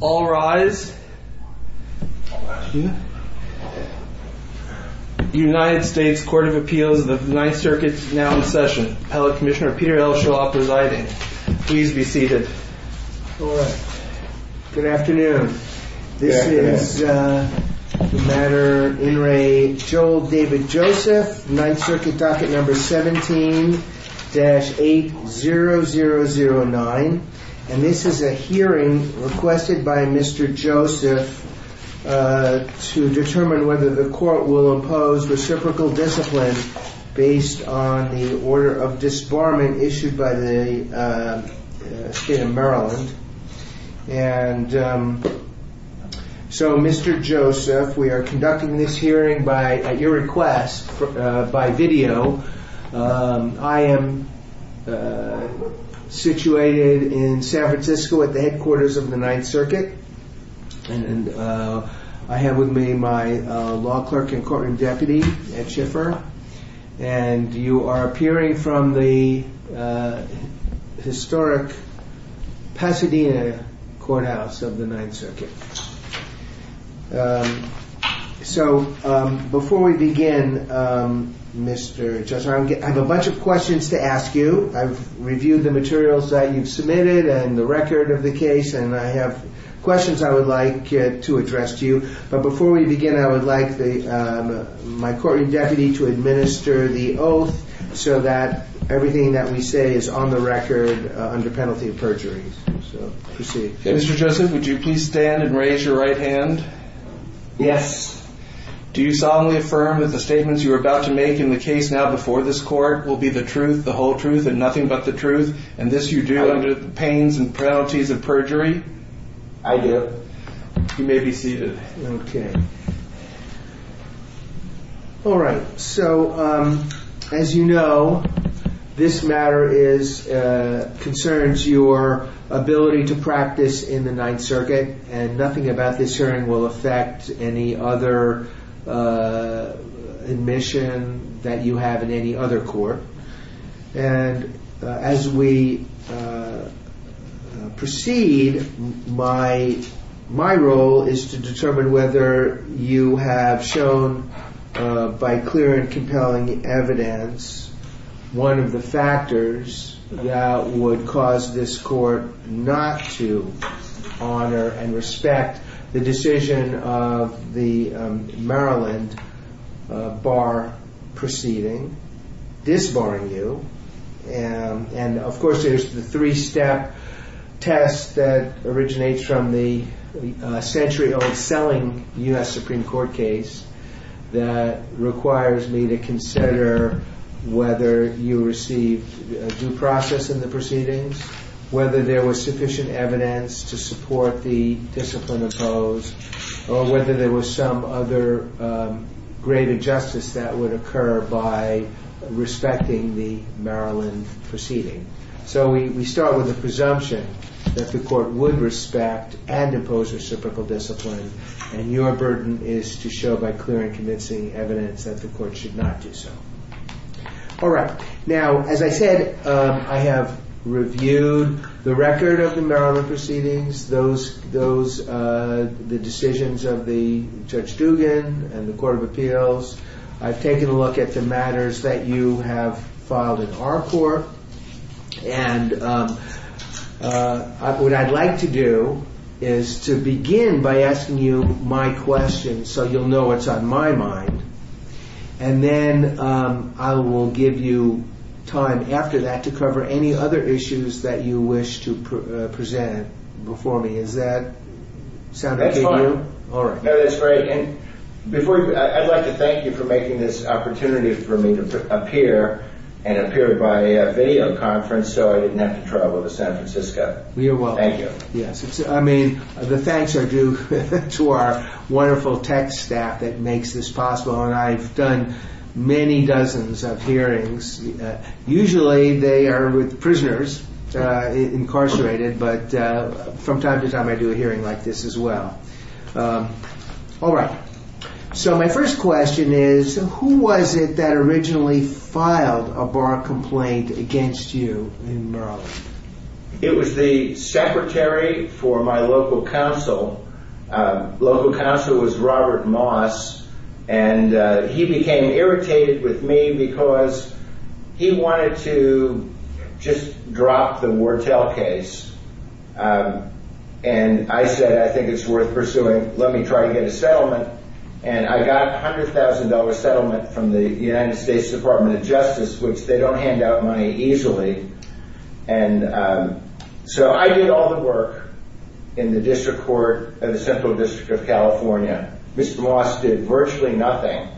All rise. United States Court of Appeals of the Ninth Circuit is now in session. Hello, Commissioner. Peter Elsheloff presiding. Please be seated. Good afternoon. This is the matter in Re. Joel David Joseph, Ninth Circuit docket number 17-80009. And this is a hearing requested by Mr. Joseph to determine whether the court will impose reciprocal discipline based on the order of disbarment issued by the state in Maryland. And so, Mr. Joseph, we are conducting this hearing at your request by video. I am situated in San Francisco at the headquarters of the Ninth Circuit. And I have with me my law clerk and courtroom deputy, Ed Schiffer. And you are appearing from the historic Pasadena courthouse of the Ninth Circuit. So before we begin, Mr. Joseph, I have a bunch of questions to ask you. I've reviewed the materials that you've submitted and the record of the case. And I have questions I would like to address to you. But before we begin, I would like my courtroom deputy to administer the oath so that everything that we say is on the record under penalty of perjury. So proceed. Mr. Joseph, would you please stand and raise your right hand? Yes. Do you solemnly affirm that the statements you are about to make in the case now before this court will be the truth, the whole truth, and nothing but the truth? And this you do under the penalty of perjury? I do. You may be seated. Okay. All right. So, as you know, this matter is concerns your ability to practice in the Ninth Circuit. And nothing about this hearing will affect any other admission that you have in any other court. And as we proceed, my role is to determine whether you have shown, by clear and compelling evidence, one of the factors that would cause this of the Maryland bar proceeding disbarring you. And, of course, there's the three-step test that originates from the century-old selling U.S. Supreme Court case that requires me to consider whether you received due process in the proceedings, whether there was sufficient evidence to support the discipline to impose, or whether there was some other greater justice that would occur by respecting the Maryland proceeding. So we start with a presumption that the court would respect and impose reciprocal discipline, and your burden is to show by clear and convincing evidence that the court should not do so. All right. Now, as I said, I have reviewed the record of the Maryland proceedings, the decisions of the Judge Duggan and the Court of Appeals. I've taken a look at the matters that you have filed in our court. And what I'd like to do is to begin by asking you my question so you'll know what's on my mind. And then I will give you time after that to cover any other issues that you wish to present before me. Does that sound okay to you? That's fine. That's great. I'd like to thank you for making this opportunity for me to appear and appear by a video conference so I didn't have to travel to San Francisco. You're welcome. Yes, I mean, the thanks are due to our wonderful tech staff that makes this possible. And I've done many dozens of hearings. Usually they are with prisoners incarcerated, but from time to time I do a hearing like this as well. All right. So my first question is, who was it that originally filed a bar complaint against you in Maryland? It was the secretary for my local council. Local council was Robert Moss, and he became irritated with me because he wanted to just drop the Wartell case. And I said, I think it's worth pursuing. Let me try to get a settlement. And I got a $100,000 settlement from the United States Department of Justice, which they don't hand out money easily. And so I did all the work in the district court of the Central District of California. Mr. Moss did virtually nothing,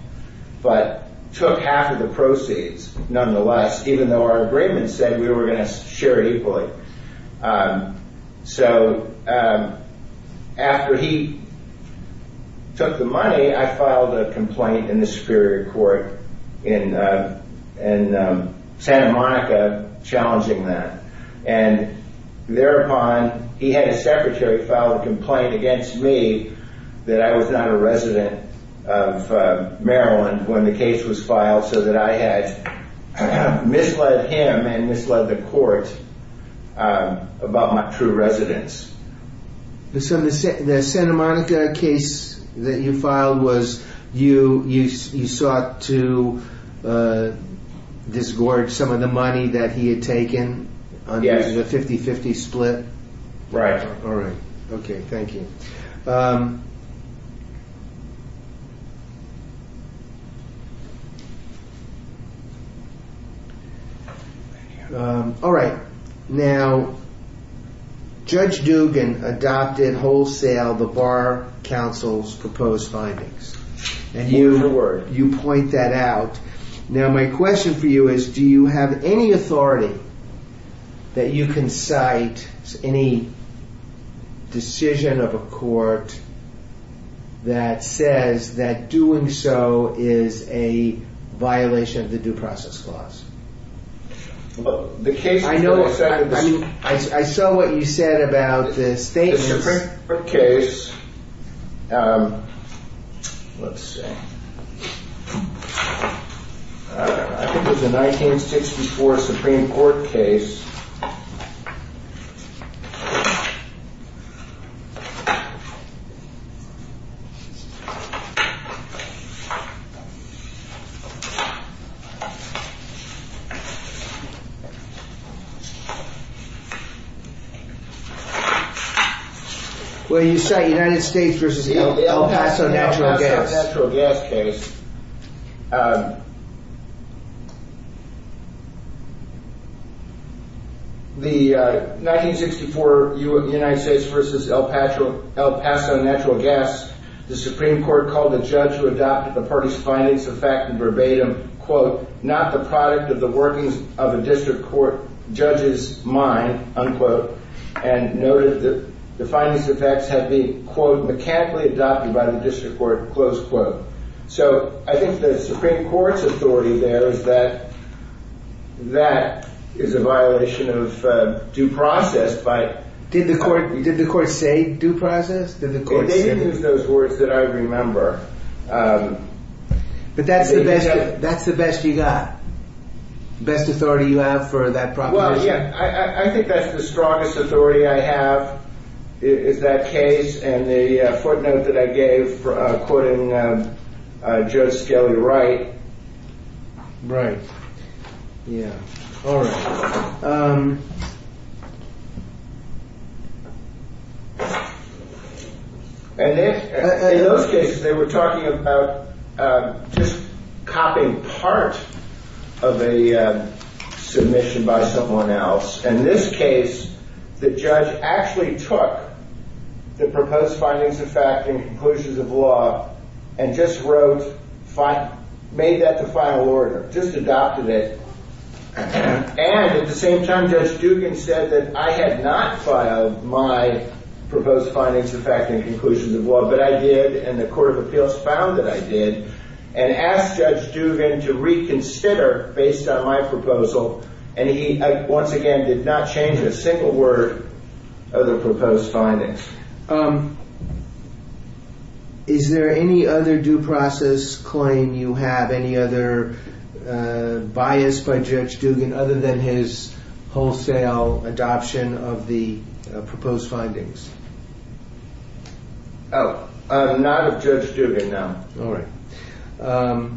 but took half of the proceeds nonetheless, even though our agreement said we were going to share equally. So after he took the money, I filed a complaint in the Superior Court in Santa Monica, challenging that. And thereupon, he had a secretary file a complaint against me that I was not a resident of Maryland when the case was filed so that I had misled him and misled the court about my true residence. So the Santa Monica case that you filed was you sought to disgorge some of the money that he had taken on the 50-50 split? Right. All right. Okay. Thank you. All right. Now, Judge Dugan adopted wholesale the Bar Council's proposed findings. And you point that out. Now, my question for you is, do you have any authority that you can cite any decision of a court that says that doing so is a violation of the due process clause? I saw what you said about the Supreme Court case. Let's see. I think it was the 1964 Supreme Court case where you cite United States versus the El Paso natural gas case. The 1964 United States versus El Paso natural gas, the Supreme Court called the judge who adopted the party's findings of fact and verbatim, quote, not the product of the workings of a district court judge's mind, unquote, and noted that the findings of facts had been, quote, mechanically adopted by the district court, close quote. So I think the Supreme Court's authority there is that that is a violation of due process. Did the court say due process? They didn't use those words that I remember. But that's the best you got? The best authority you have for that proposition? Well, yeah. I think that's the strongest authority I have is that case and the footnote that I gave quoting Judge Skelly Wright. Right. Yeah. All right. And in those cases, they were talking about just copying part of a submission by someone else. In this case, the judge actually took the proposed findings of fact and conclusions of law and just wrote, made that the final order, just adopted it. And at the same time, Judge Dugan said that I had not filed my proposed findings of fact and conclusions of law, but I did. And the Court of Appeals found that I did and asked Judge Dugan to reconsider based on my proposal. And he once again did not change a single word of the proposed findings. Is there any other due process claim you have? Any other bias by Judge Dugan other than his wholesale adoption of the proposed findings? Oh, not of Judge Dugan, no. All right. Okay.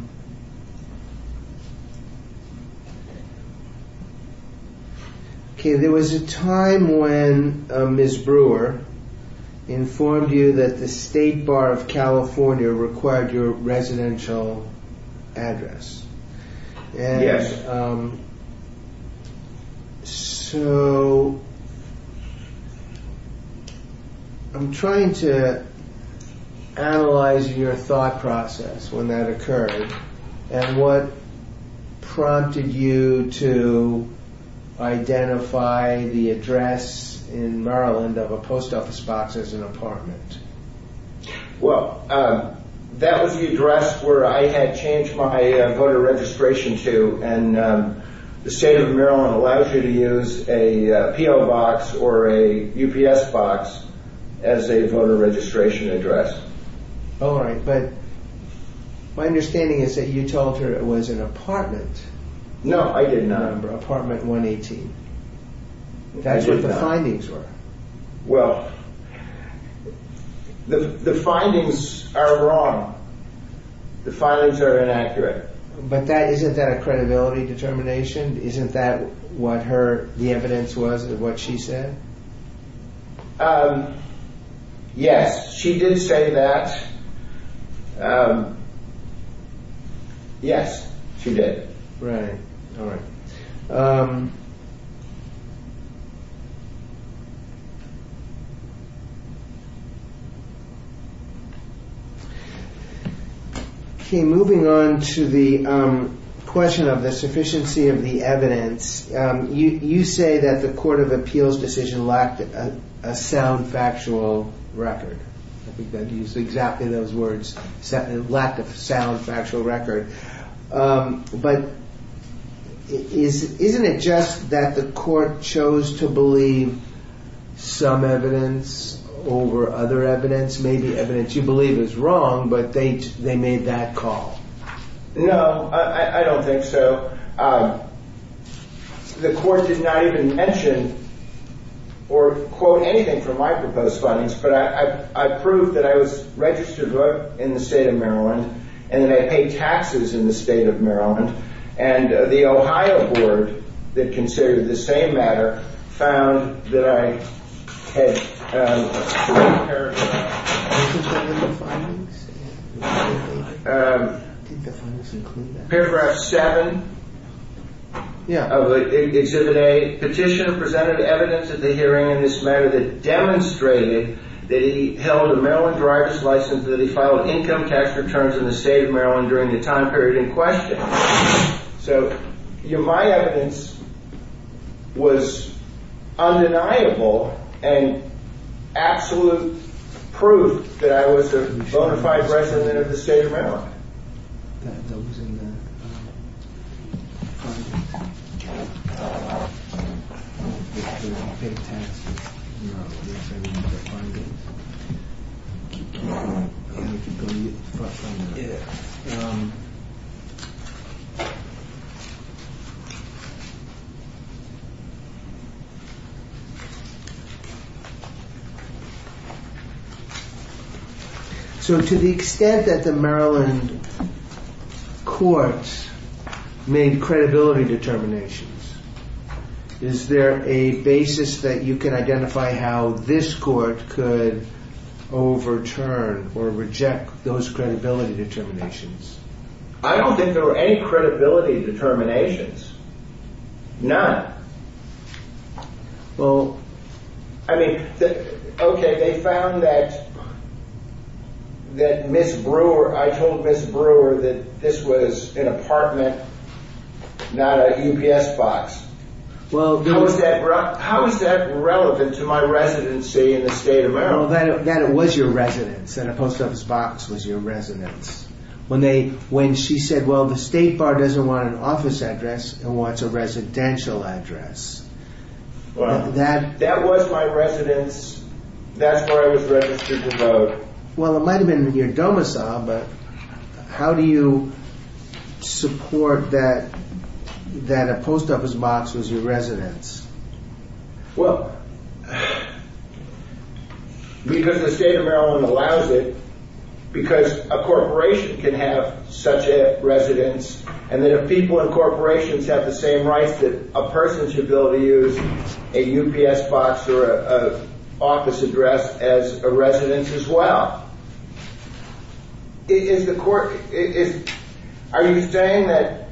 There was a time when Ms. Brewer informed you that the State Bar of California required your residential address. Yes. And so I'm trying to analyze your thought process when that occurred and what prompted you to identify the address in Maryland of a post office box as an apartment? Well, that was the address where I had changed my voter registration to and the State of Maryland allows you to use a PO box or a UPS box as a voter registration address. All right. But my understanding is that you told her it was an apartment. No, I did not. Apartment 118. That's what the findings were. Well, the findings are wrong. The findings are inaccurate. But isn't that a credibility determination? Isn't that what the evidence was of what she said? Yes, she did say that. Yes, she did. Right. All right. Okay, moving on to the question of the sufficiency of the evidence. You say that the Court of Appeals decision lacked a sound factual record. I think that you used exactly those words, lack of sound factual record. But isn't it just that the court chose to believe some evidence over other evidence? Maybe evidence you believe is wrong, but they made that call? No, I don't think so. The court did not even mention or quote anything from my proposed findings, but I proved that I was registered to vote in the State of Maryland and then I paid taxes in the State of Maryland. And the Ohio board that considered the same matter found that I had. I think the findings include that. Paragraph 7 of Exhibit A, Petitioner presented evidence at the hearing in this matter that demonstrated that he held a Maryland driver's license, that he filed income tax returns in the State of Maryland during the time period in question. So my evidence was undeniable and absolute proof that I was a bona fide resident of the State of Maryland. So to the extent that the Maryland courts made credibility determinations, is there a basis that you can identify how this court could overturn or reject those credibility determinations? I don't think there were any credibility determinations. None. Well, I mean, okay, they found that, that Ms. Brewer, I told Ms. Brewer that this was an apartment, not a UPS box. Well, how is that relevant to my residency in the State of Maryland? That it was your residence and a post office box was your residence. When they, when she said, well, the State Bar doesn't want an office address and wants a residential address. Well, that, that was my residence. That's where I was registered to vote. Well, it might've been in your domicile, but how do you support that, that a post office box was your residence? Well, because the State of Maryland allows it, because a corporation can have such a residence and that if people in corporations have the same rights that a person should be able to use a UPS box or a office address as a residence as well. Is the court, is, are you saying that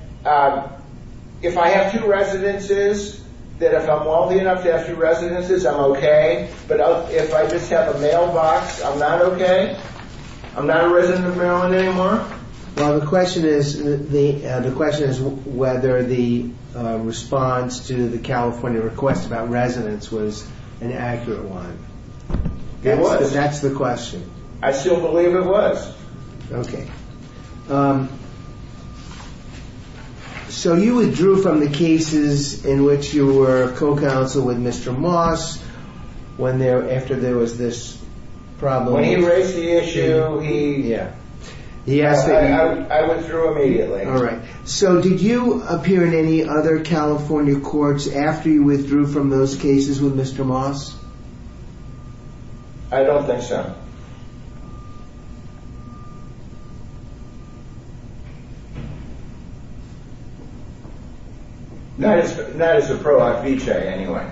if I have two residences, that if I'm wealthy enough to have two residences, I'm okay? But if I just have a mailbox, I'm not okay? I'm not a resident of Maryland anymore? Well, the question is, the question is whether the response to the California request about residence was an accurate one. It was. That's the question. I still believe it was. Okay. Um, so you withdrew from the cases in which you were co-counsel with Mr. Moss when there, after there was this problem. When he raised the issue, he, yeah, I withdrew immediately. All right. So did you appear in any other California courts after you withdrew from those cases with Mr. Moss? I don't think so. Not as, not as a pro-Hoffeche anyway.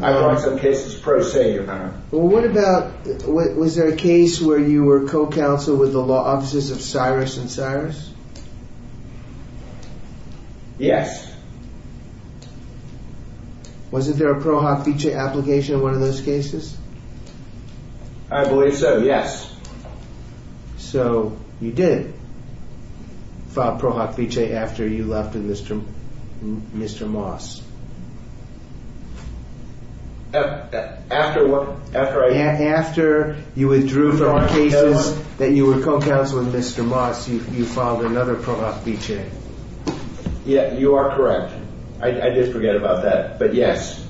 I'm on some cases pro se, your honor. Well, what about, was there a case where you were co-counsel with the law offices of Cyrus and Cyrus? Yes. Wasn't there a pro-Hoffeche application in one of those cases? I believe so. Yes. So you did file pro-Hoffeche after you left with Mr. Moss. After what? After I, after you withdrew from cases that you were co-counsel with Mr. Moss, you, you filed another pro-Hoffeche. Yeah, you are correct. I did forget about that, but yes.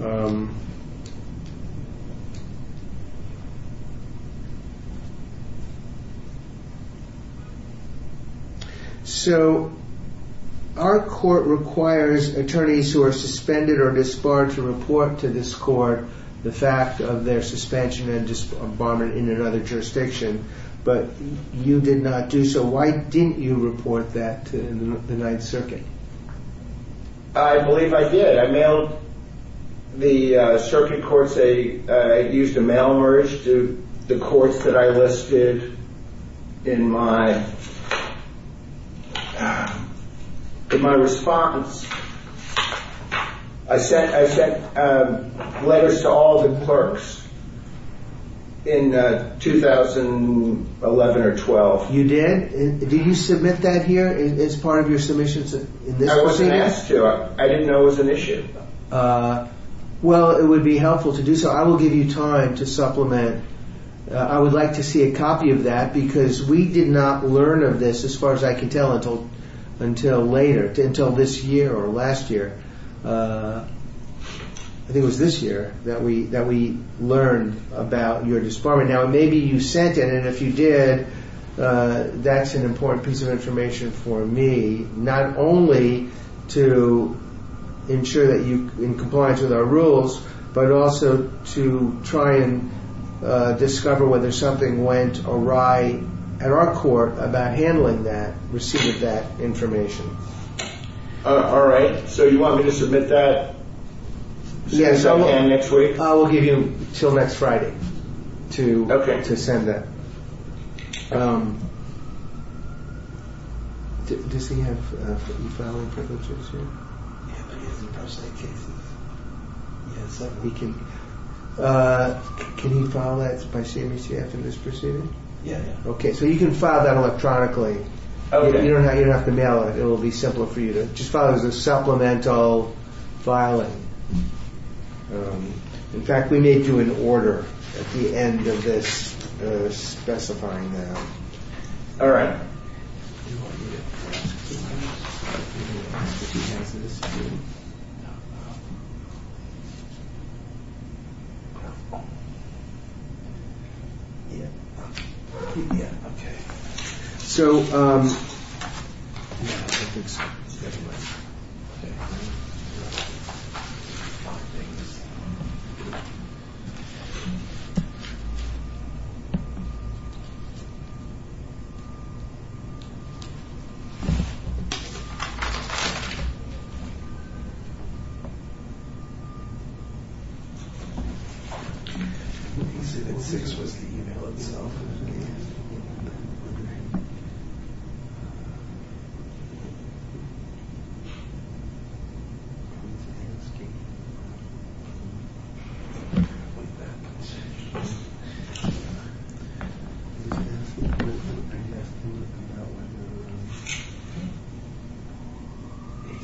Okay. So our court requires attorneys who are suspended or disbarred to report to this court the fact of their suspension and disbarment in another jurisdiction, but you did not do so. Why didn't you report that to the Ninth Circuit? I believe I did. I mailed the circuit courts, I used a mail merge to the courts that I listed in my, in my response. I sent, I sent letters to all the clerks in 2011 or 12. You did? Did you submit that here as part of your submissions in this proceeding? I didn't know it was an issue. Well, it would be helpful to do so. I will give you time to supplement. I would like to see a copy of that because we did not learn of this, as far as I can tell, until, until later, until this year or last year. I think it was this year that we, that we learned about your disbarment. Now, maybe you sent it and if you did, that's an important piece of information for me. Not only to ensure that you're in compliance with our rules, but also to try and discover whether something went awry at our court about handling that, receiving that information. All right. So you want me to submit that next week? I will give you until next Friday to send that. Um, does he have e-filing privileges here? Yes, we can, uh, can he file that by CMCF in this proceeding? Yeah. Okay. So you can file that electronically. You don't have to mail it. It will be simpler for you to just file as a supplemental filing. Um, in fact, we may do an order at the end of this, uh, specifying that. All right. Yeah. Okay. So, um, okay. He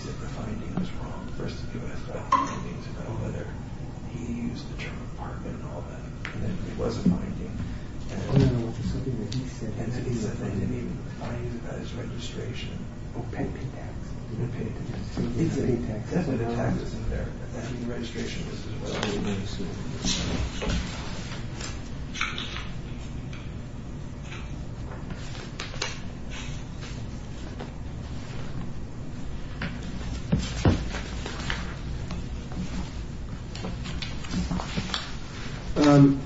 said the finding was wrong. First of all, he used the term apartment and all that and then it was a finding. I don't know if it's something that he said. He said that he didn't even find it by his registration. Oh, pay the tax. He didn't pay the tax. Definitely the tax isn't there, but that's what the registration is as well. Um,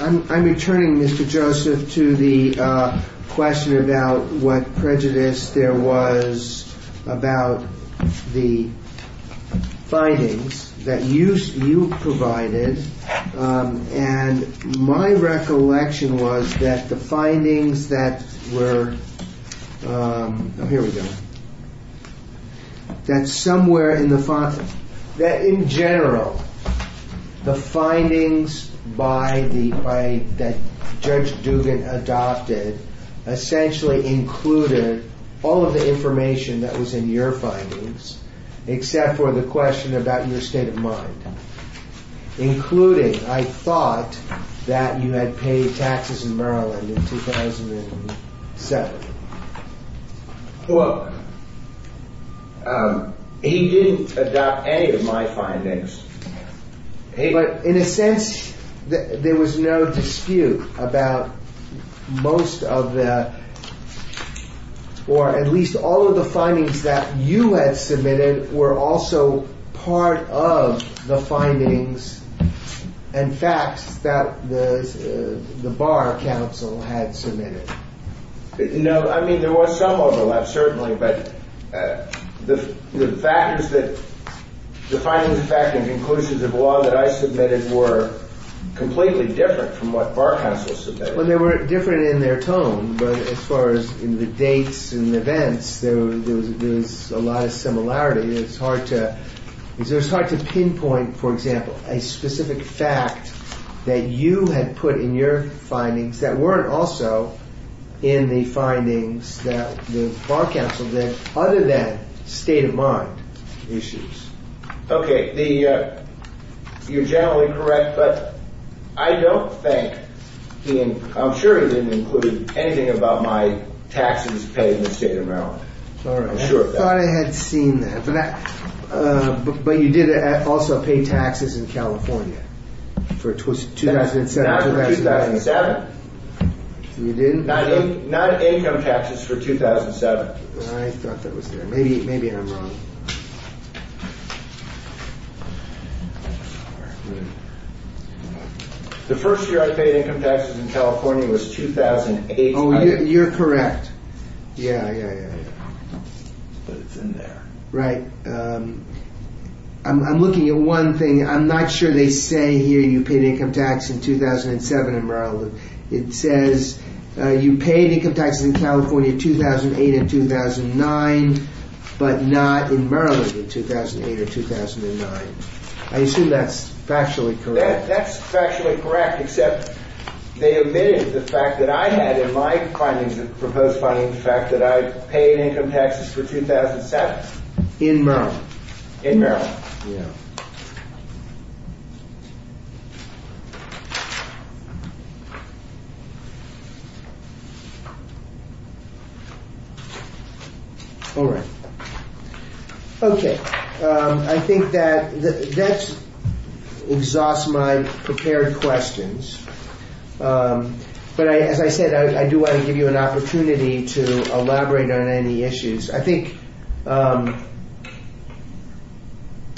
I'm, I'm returning Mr. Joseph to the, uh, question about what prejudice there was about the findings that you, you provided. Um, and my recollection was that the findings that were, um, here we go, that somewhere in the font, that in general, the findings by the, by that Judge Dugan adopted essentially included all of the information that was in your findings, except for the question about your state of mind, including, I thought that you had paid taxes in Maryland in 2007. Well, um, he didn't adopt any of my findings. Hey, but in a sense that there was no dispute about most of the, or at least all of the findings that you had submitted were also part of the findings and facts that the, uh, the Bar Council had submitted. No, I mean, there was some overlap, certainly, but, uh, the, the factors that the findings of fact and conclusions of law that I submitted were completely different from what Bar Council submitted. Well, they were different in their tone, but as far as in the dates and events, there was, there was a lot of similarity. It's hard to, it's hard to pinpoint, for example, a specific fact that you had put in your findings that weren't also in the findings that the Bar Council did other than state of mind issues. Okay. The, uh, you're generally correct, but I don't think he, and I'm sure he didn't include anything about my taxes paid in the state of Maryland. All right. I thought I had seen that, but that, uh, but you did also pay taxes in California for 2007. Not for 2007. You didn't? Not income taxes for 2007. I thought that was there. Maybe, maybe I'm wrong. The first year I paid income taxes in California was 2008. Oh, you're correct. Yeah, yeah, yeah. But it's in there. Right. Um, I'm, I'm looking at one thing. I'm not sure they say here you paid income tax in 2007 in Maryland. It says, uh, you paid income taxes in California 2008 and 2009, but not in Maryland in 2008 or 2009. I assume that's factually correct. That's factually correct. Except they omitted the fact that I had in my findings, proposed findings, the fact that I paid income taxes for 2007. In Maryland. In Maryland. Yeah. All right. Okay. Um, I think that that's exhaust my prepared questions. Um, but I, as I said, I do want to give you an opportunity to elaborate on any issues. I think, um,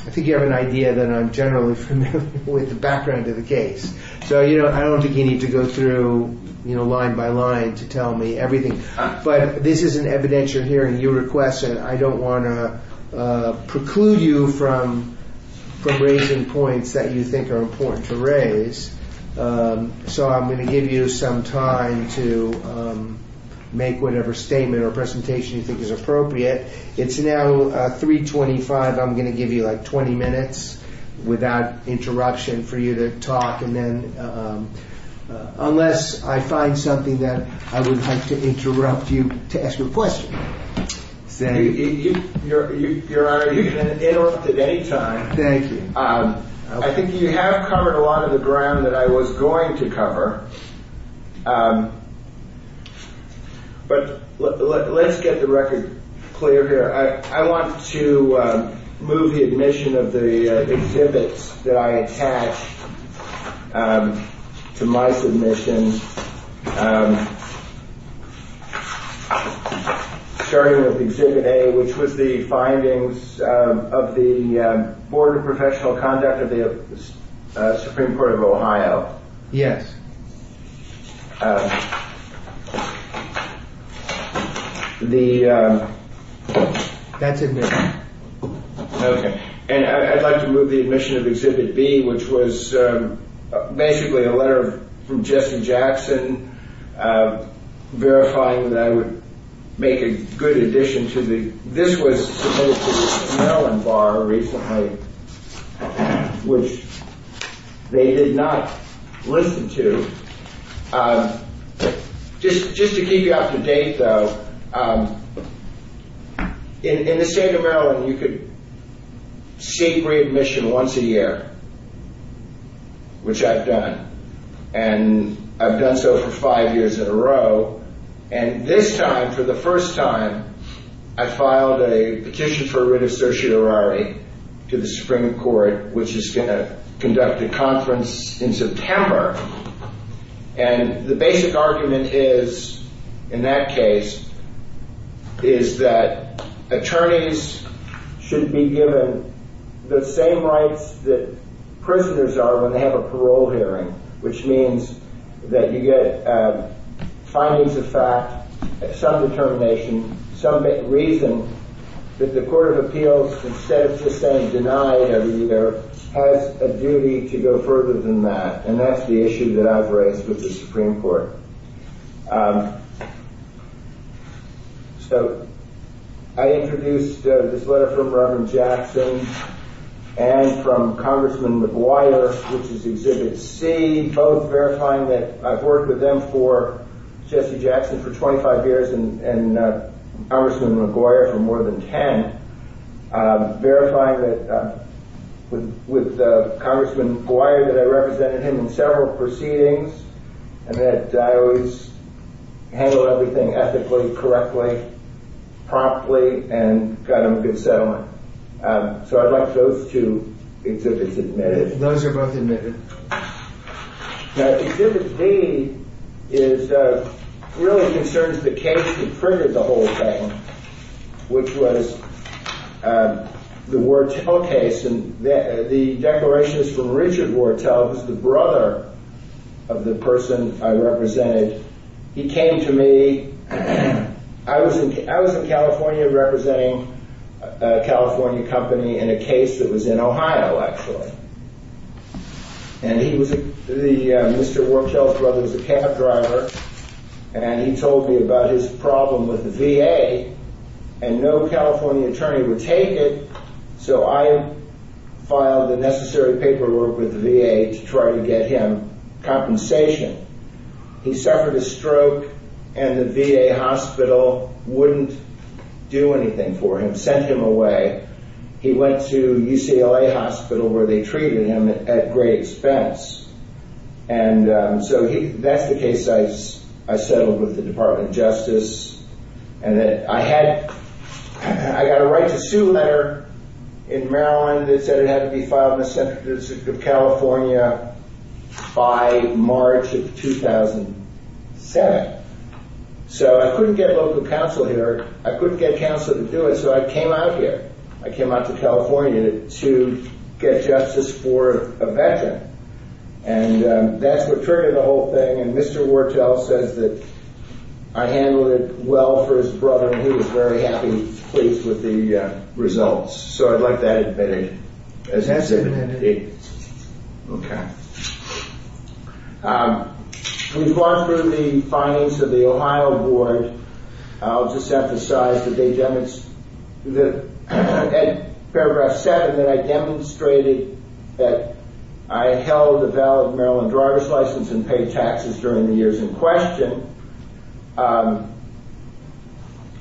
I think you have an idea that I'm generally familiar with the background of the case. So, you know, I don't think you need to go through, you know, line by line to tell me everything. But this is an evidentiary hearing. You request it. I don't want to preclude you from, from raising points that you think are important to raise. Um, so I'm going to give you some time to, um, make whatever statement or presentation you think is appropriate. It's now, uh, 325. I'm going to give you like 20 minutes without interruption for you to talk. And then, um, uh, unless I find something that I would like to interrupt you to ask your question. Say your, your, your honor, you can interrupt at any time. Thank you. Um, I think you have covered a lot of the ground that I was going to cover. Um, but let's get the record clear here. I, I want to, um, move the admission of the exhibits that I attached, um, to my submissions. Um, starting with exhibit A, which was the findings, um, of the, um, Board of Professional Conduct of the, uh, Supreme Court of Ohio. Yes. The, um, that's it. Okay. And I'd like to move the admission of exhibit B, which was, um, basically a letter from Jesse Jackson, uh, verifying that I would make a good addition to the, this was submitted to the Maryland Bar recently, which they did not listen to. Um, just, just to keep you up to date though, um, in, in the state of Maryland, you could seek readmission once a year, which I've done. And I've done so for five years in a row. And this time for the first time, I filed a petition for writ of certiorari to the Supreme Court, which is going to conduct a conference in September. And the basic argument is, in that case, is that attorneys should be given the same rights that prisoners are when they have a parole hearing, which means that you get, um, findings of fact, some determination, some reason that the court of appeals, instead of just saying deny every year, has a duty to go further than that. And that's the issue that I've raised with the Supreme Court. Um, so I introduced this letter from Reverend Jackson and from Congressman McGuire, which is Exhibit C, both verifying that I've worked with them for Jesse Jackson for 25 years and, and, uh, Congressman McGuire for more than 10, um, verifying that, uh, with, with, uh, several proceedings and that I always handle everything ethically, correctly, promptly, and got them a good settlement. Um, so I'd like those two exhibits admitted. Those are both admitted. Now, Exhibit D is, uh, really concerns the case that triggered the whole thing, which was, um, the Wartell case. The declaration is from Richard Wartell, who's the brother of the person I represented. He came to me. I was in, I was in California representing a California company in a case that was in Ohio, actually. And he was the, uh, Mr. Wartell's brother was a cab driver, and he told me about his problem with the VA, and no California attorney would take it. So I filed the necessary paperwork with the VA to try to get him compensation. He suffered a stroke and the VA hospital wouldn't do anything for him, sent him away. He went to UCLA hospital where they treated him at great expense. And, um, so he, that's the case I, I settled with the department of justice and that I had, I got a right to sue letter in Maryland that said it had to be filed in the center of California by March of 2007. So I couldn't get local counsel here. I couldn't get counsel to do it. So I came out here. I came out to California to get justice for a veteran. And, um, that's what triggered the whole thing. And Mr. Wartell says that I handled it well for his brother. And he was very happy, pleased with the results. So I'd like that admitted as evidence. Okay. Um, we've gone through the findings of the Ohio board. I'll just emphasize that they demonstrate that at paragraph seven, that I demonstrated that I held a valid Maryland driver's license and paid taxes during the years in question. Um,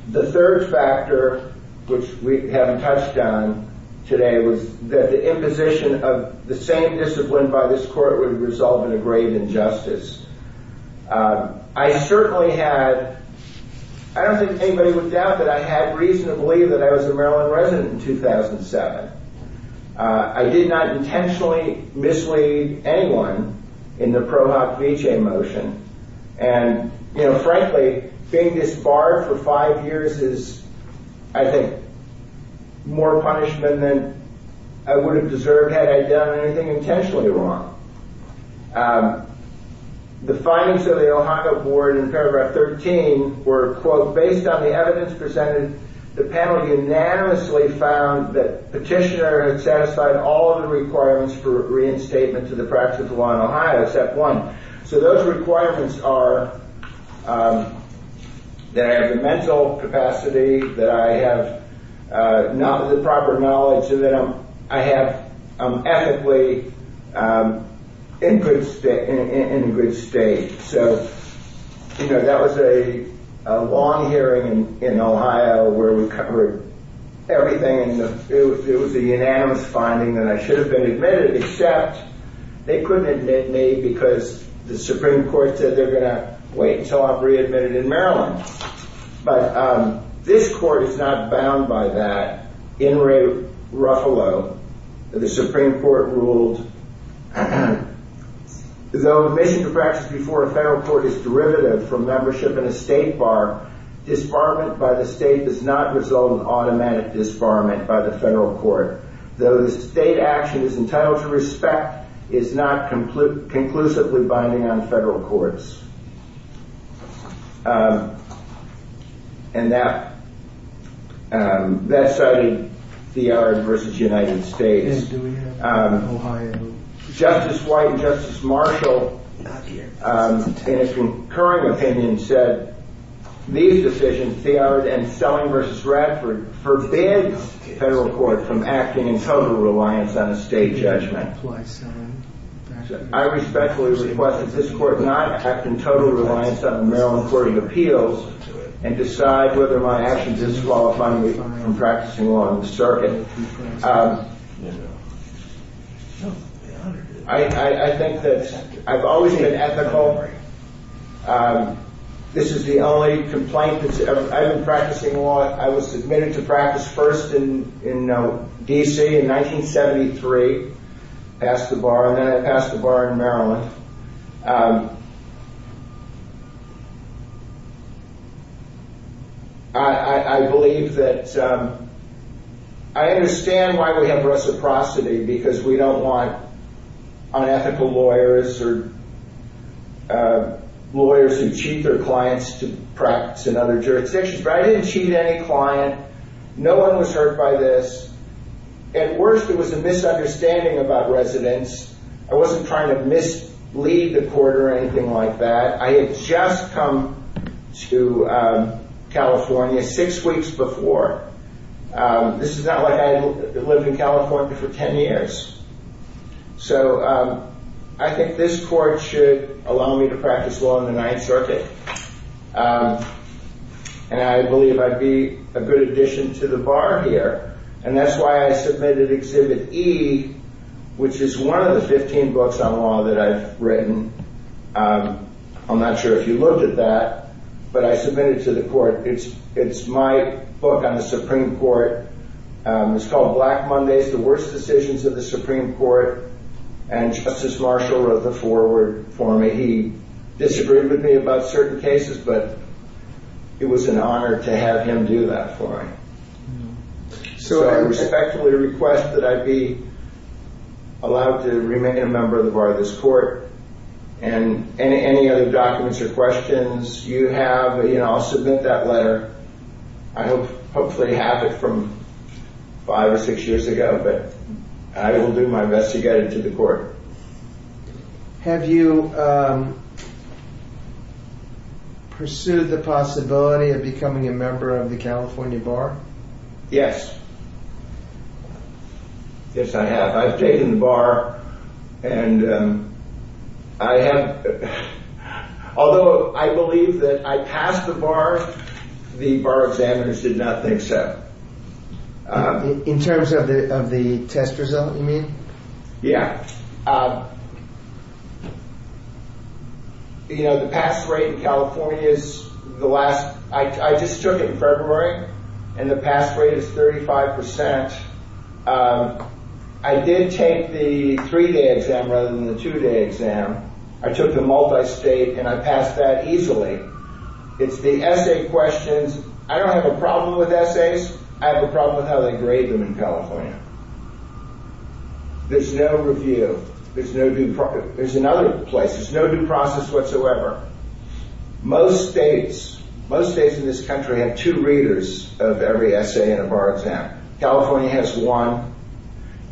the third factor, which we haven't touched on today was that the imposition of the same discipline by this court would resolve in a grave injustice. Um, I certainly had, I don't think anybody would doubt that I had reason to believe that I was a Maryland resident in 2007. Uh, I did not intentionally mislead anyone in the Pro Hoc Veche motion. And, you know, frankly, being disbarred for five years is, I think, more punishment than I would have deserved had I done anything intentionally wrong. Um, the findings of the Ohio board in paragraph 13 were quote, based on the evidence presented, the panel unanimously found that petitioner had satisfied all of the requirements for reinstatement to the practice of the law in Ohio, except one. So those requirements are, um, that I have the mental capacity, that I have, uh, not the proper knowledge, so that I'm, I have, um, ethically, um, in good state, in a good state. So, you know, that was a, a long hearing in, in Ohio where we covered everything. And it was, it was a unanimous finding that I should have been admitted, except they couldn't admit me because the Supreme Court said they're going to wait until I'm readmitted in Maryland. But, um, this court is not bound by that. In Ray Ruffalo, the Supreme Court ruled, though admission to practice before a federal court is derivative from membership in a state bar, disbarment by the state does not result in automatic disbarment by the federal court. Though the state action is entitled to respect, it's not conclusively binding on federal courts. Um, and that, um, that cited Theard versus United States. Um, Justice White and Justice Marshall, um, in a concurring opinion said these decisions, Theard and Selling versus Radford, forbids federal court from acting in total reliance on a state judgment. I respectfully request that this court not act in total reliance on the Maryland Court of Appeals and decide whether my actions disqualify me from practicing law in the circuit. Um, I, I, I think that I've always been ethical. Um, this is the only complaint that's ever, I've been practicing law, I was admitted to practice first in, in, uh, D.C. in 1973, passed the bar, and then I passed the bar in Maryland. Um, I, I, I believe that, um, I understand why we have reciprocity because we don't want unethical lawyers or, uh, lawyers who cheat their clients to practice in other jurisdictions. But I didn't cheat any client. No one was hurt by this. At worst, it was a misunderstanding about residence. I wasn't trying to mislead the court or anything like that. I had just come to, um, California six weeks before. Um, this is not like I had lived in California for 10 years. So, um, I think this court should allow me to practice law in the Ninth Circuit. Um, and I believe I'd be a good addition to the bar here. And that's why I submitted Exhibit E, which is one of the 15 books on law that I've written. Um, I'm not sure if you looked at that, but I submitted it to the court. It's, it's my book on the Supreme Court. Um, it's called Black Mondays, The Worst Decisions of the Supreme Court. And Justice Marshall wrote the foreword for me. He disagreed with me about certain cases, but it was an honor to have him do that for me. So I respectfully request that I be allowed to remain a member of the bar of this court. And any, any other documents or questions you have, you know, I'll submit that letter. I hope, hopefully have it from five or six years ago, but I will do my best to get it to the court. Have you, um, pursued the possibility of becoming a member of the California Bar? Yes. Yes, I have. I've taken the bar and, um, I have, although I believe that I passed the bar, the bar examiners did not think so. In terms of the, of the test result, you mean? Yeah, um, you know, the pass rate in California is the last, I just took it in February and the pass rate is 35%. Um, I did take the three-day exam rather than the two-day exam. I took the multi-state and I passed that easily. It's the essay questions. I don't have a problem with essays. I have a problem with how they grade them in California. There's no review. There's no due process. There's another place. There's no due process whatsoever. Most states, most states in this country have two readers of every essay in a bar exam. California has one.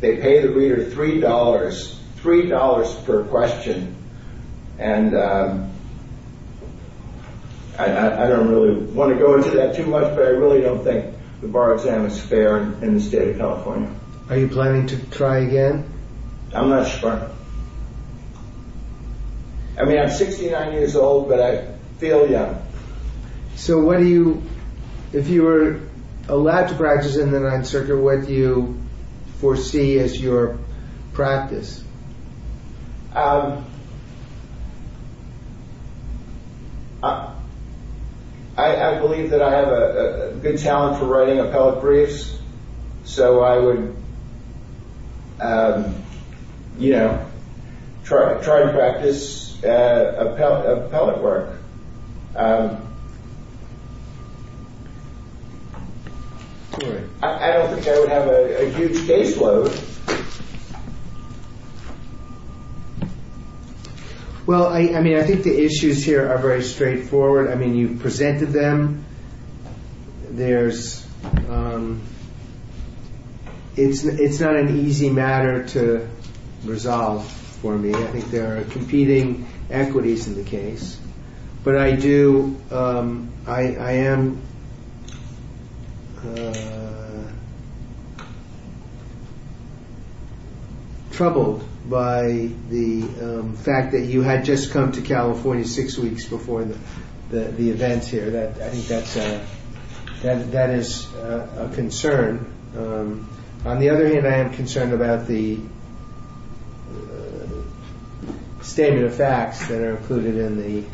They pay the reader three dollars, three dollars per question. And, um, I don't really want to go into that too much, but I really don't think the bar exam is fair in the state of California. Are you planning to try again? I'm not sure. I mean, I'm 69 years old, but I feel young. So what do you, if you were allowed to practice in the Ninth Circuit, what do you foresee as your practice? Um, I, I believe that I have a good talent for writing appellate briefs. So I would, um, you know, try, try and practice, uh, appellate, appellate work. I don't think I would have a huge caseload. Well, I mean, I think the issues here are very straightforward. I mean, you've presented them. There's, um, it's, it's not an easy matter to resolve for me. I think there are competing equities in the case, but I do, um, I, I am, troubled by the fact that you had just come to California six weeks before the, the, the events here that I think that's a, that, that is a concern. On the other hand, I am concerned about the statement of facts that are included in the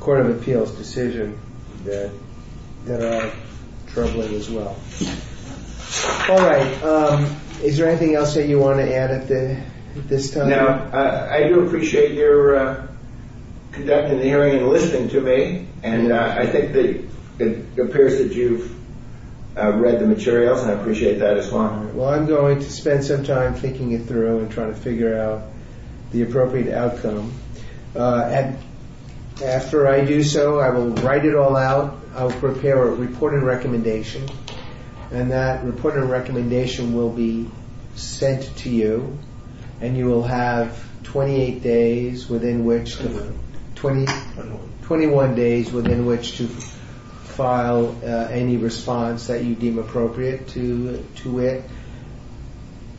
court of appeals decision that, that are troubling as well. All right. Um, is there anything else that you want to add at the, at this time? I do appreciate your, uh, conducting the hearing and listening to me. And, uh, I think that it appears that you've, uh, read the materials and I appreciate that as well. Well, I'm going to spend some time thinking it through and trying to figure out the appropriate outcome. Uh, and after I do so, I will write it all out. I'll prepare a report and recommendation and that report and recommendation will be 28 days within which to, 20, 21 days within which to file any response that you deem appropriate to, to it.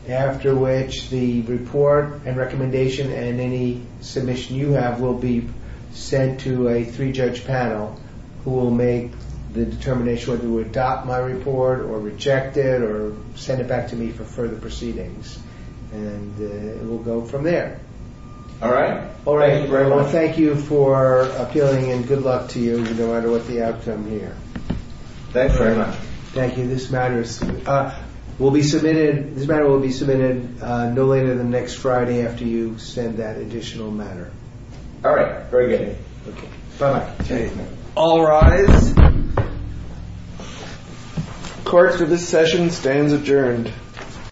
After which the report and recommendation and any submission you have will be sent to a three judge panel who will make the determination whether to adopt my report or reject it or send it back to me for further proceedings. And, uh, it will go from there. All right. All right. Thank you very much. Well, thank you for appealing and good luck to you no matter what the outcome here. Thanks very much. Thank you. This matter is, uh, will be submitted. This matter will be submitted, uh, no later than next Friday after you send that additional matter. All right. Very good. Bye-bye. All rise. Court for this session stands adjourned.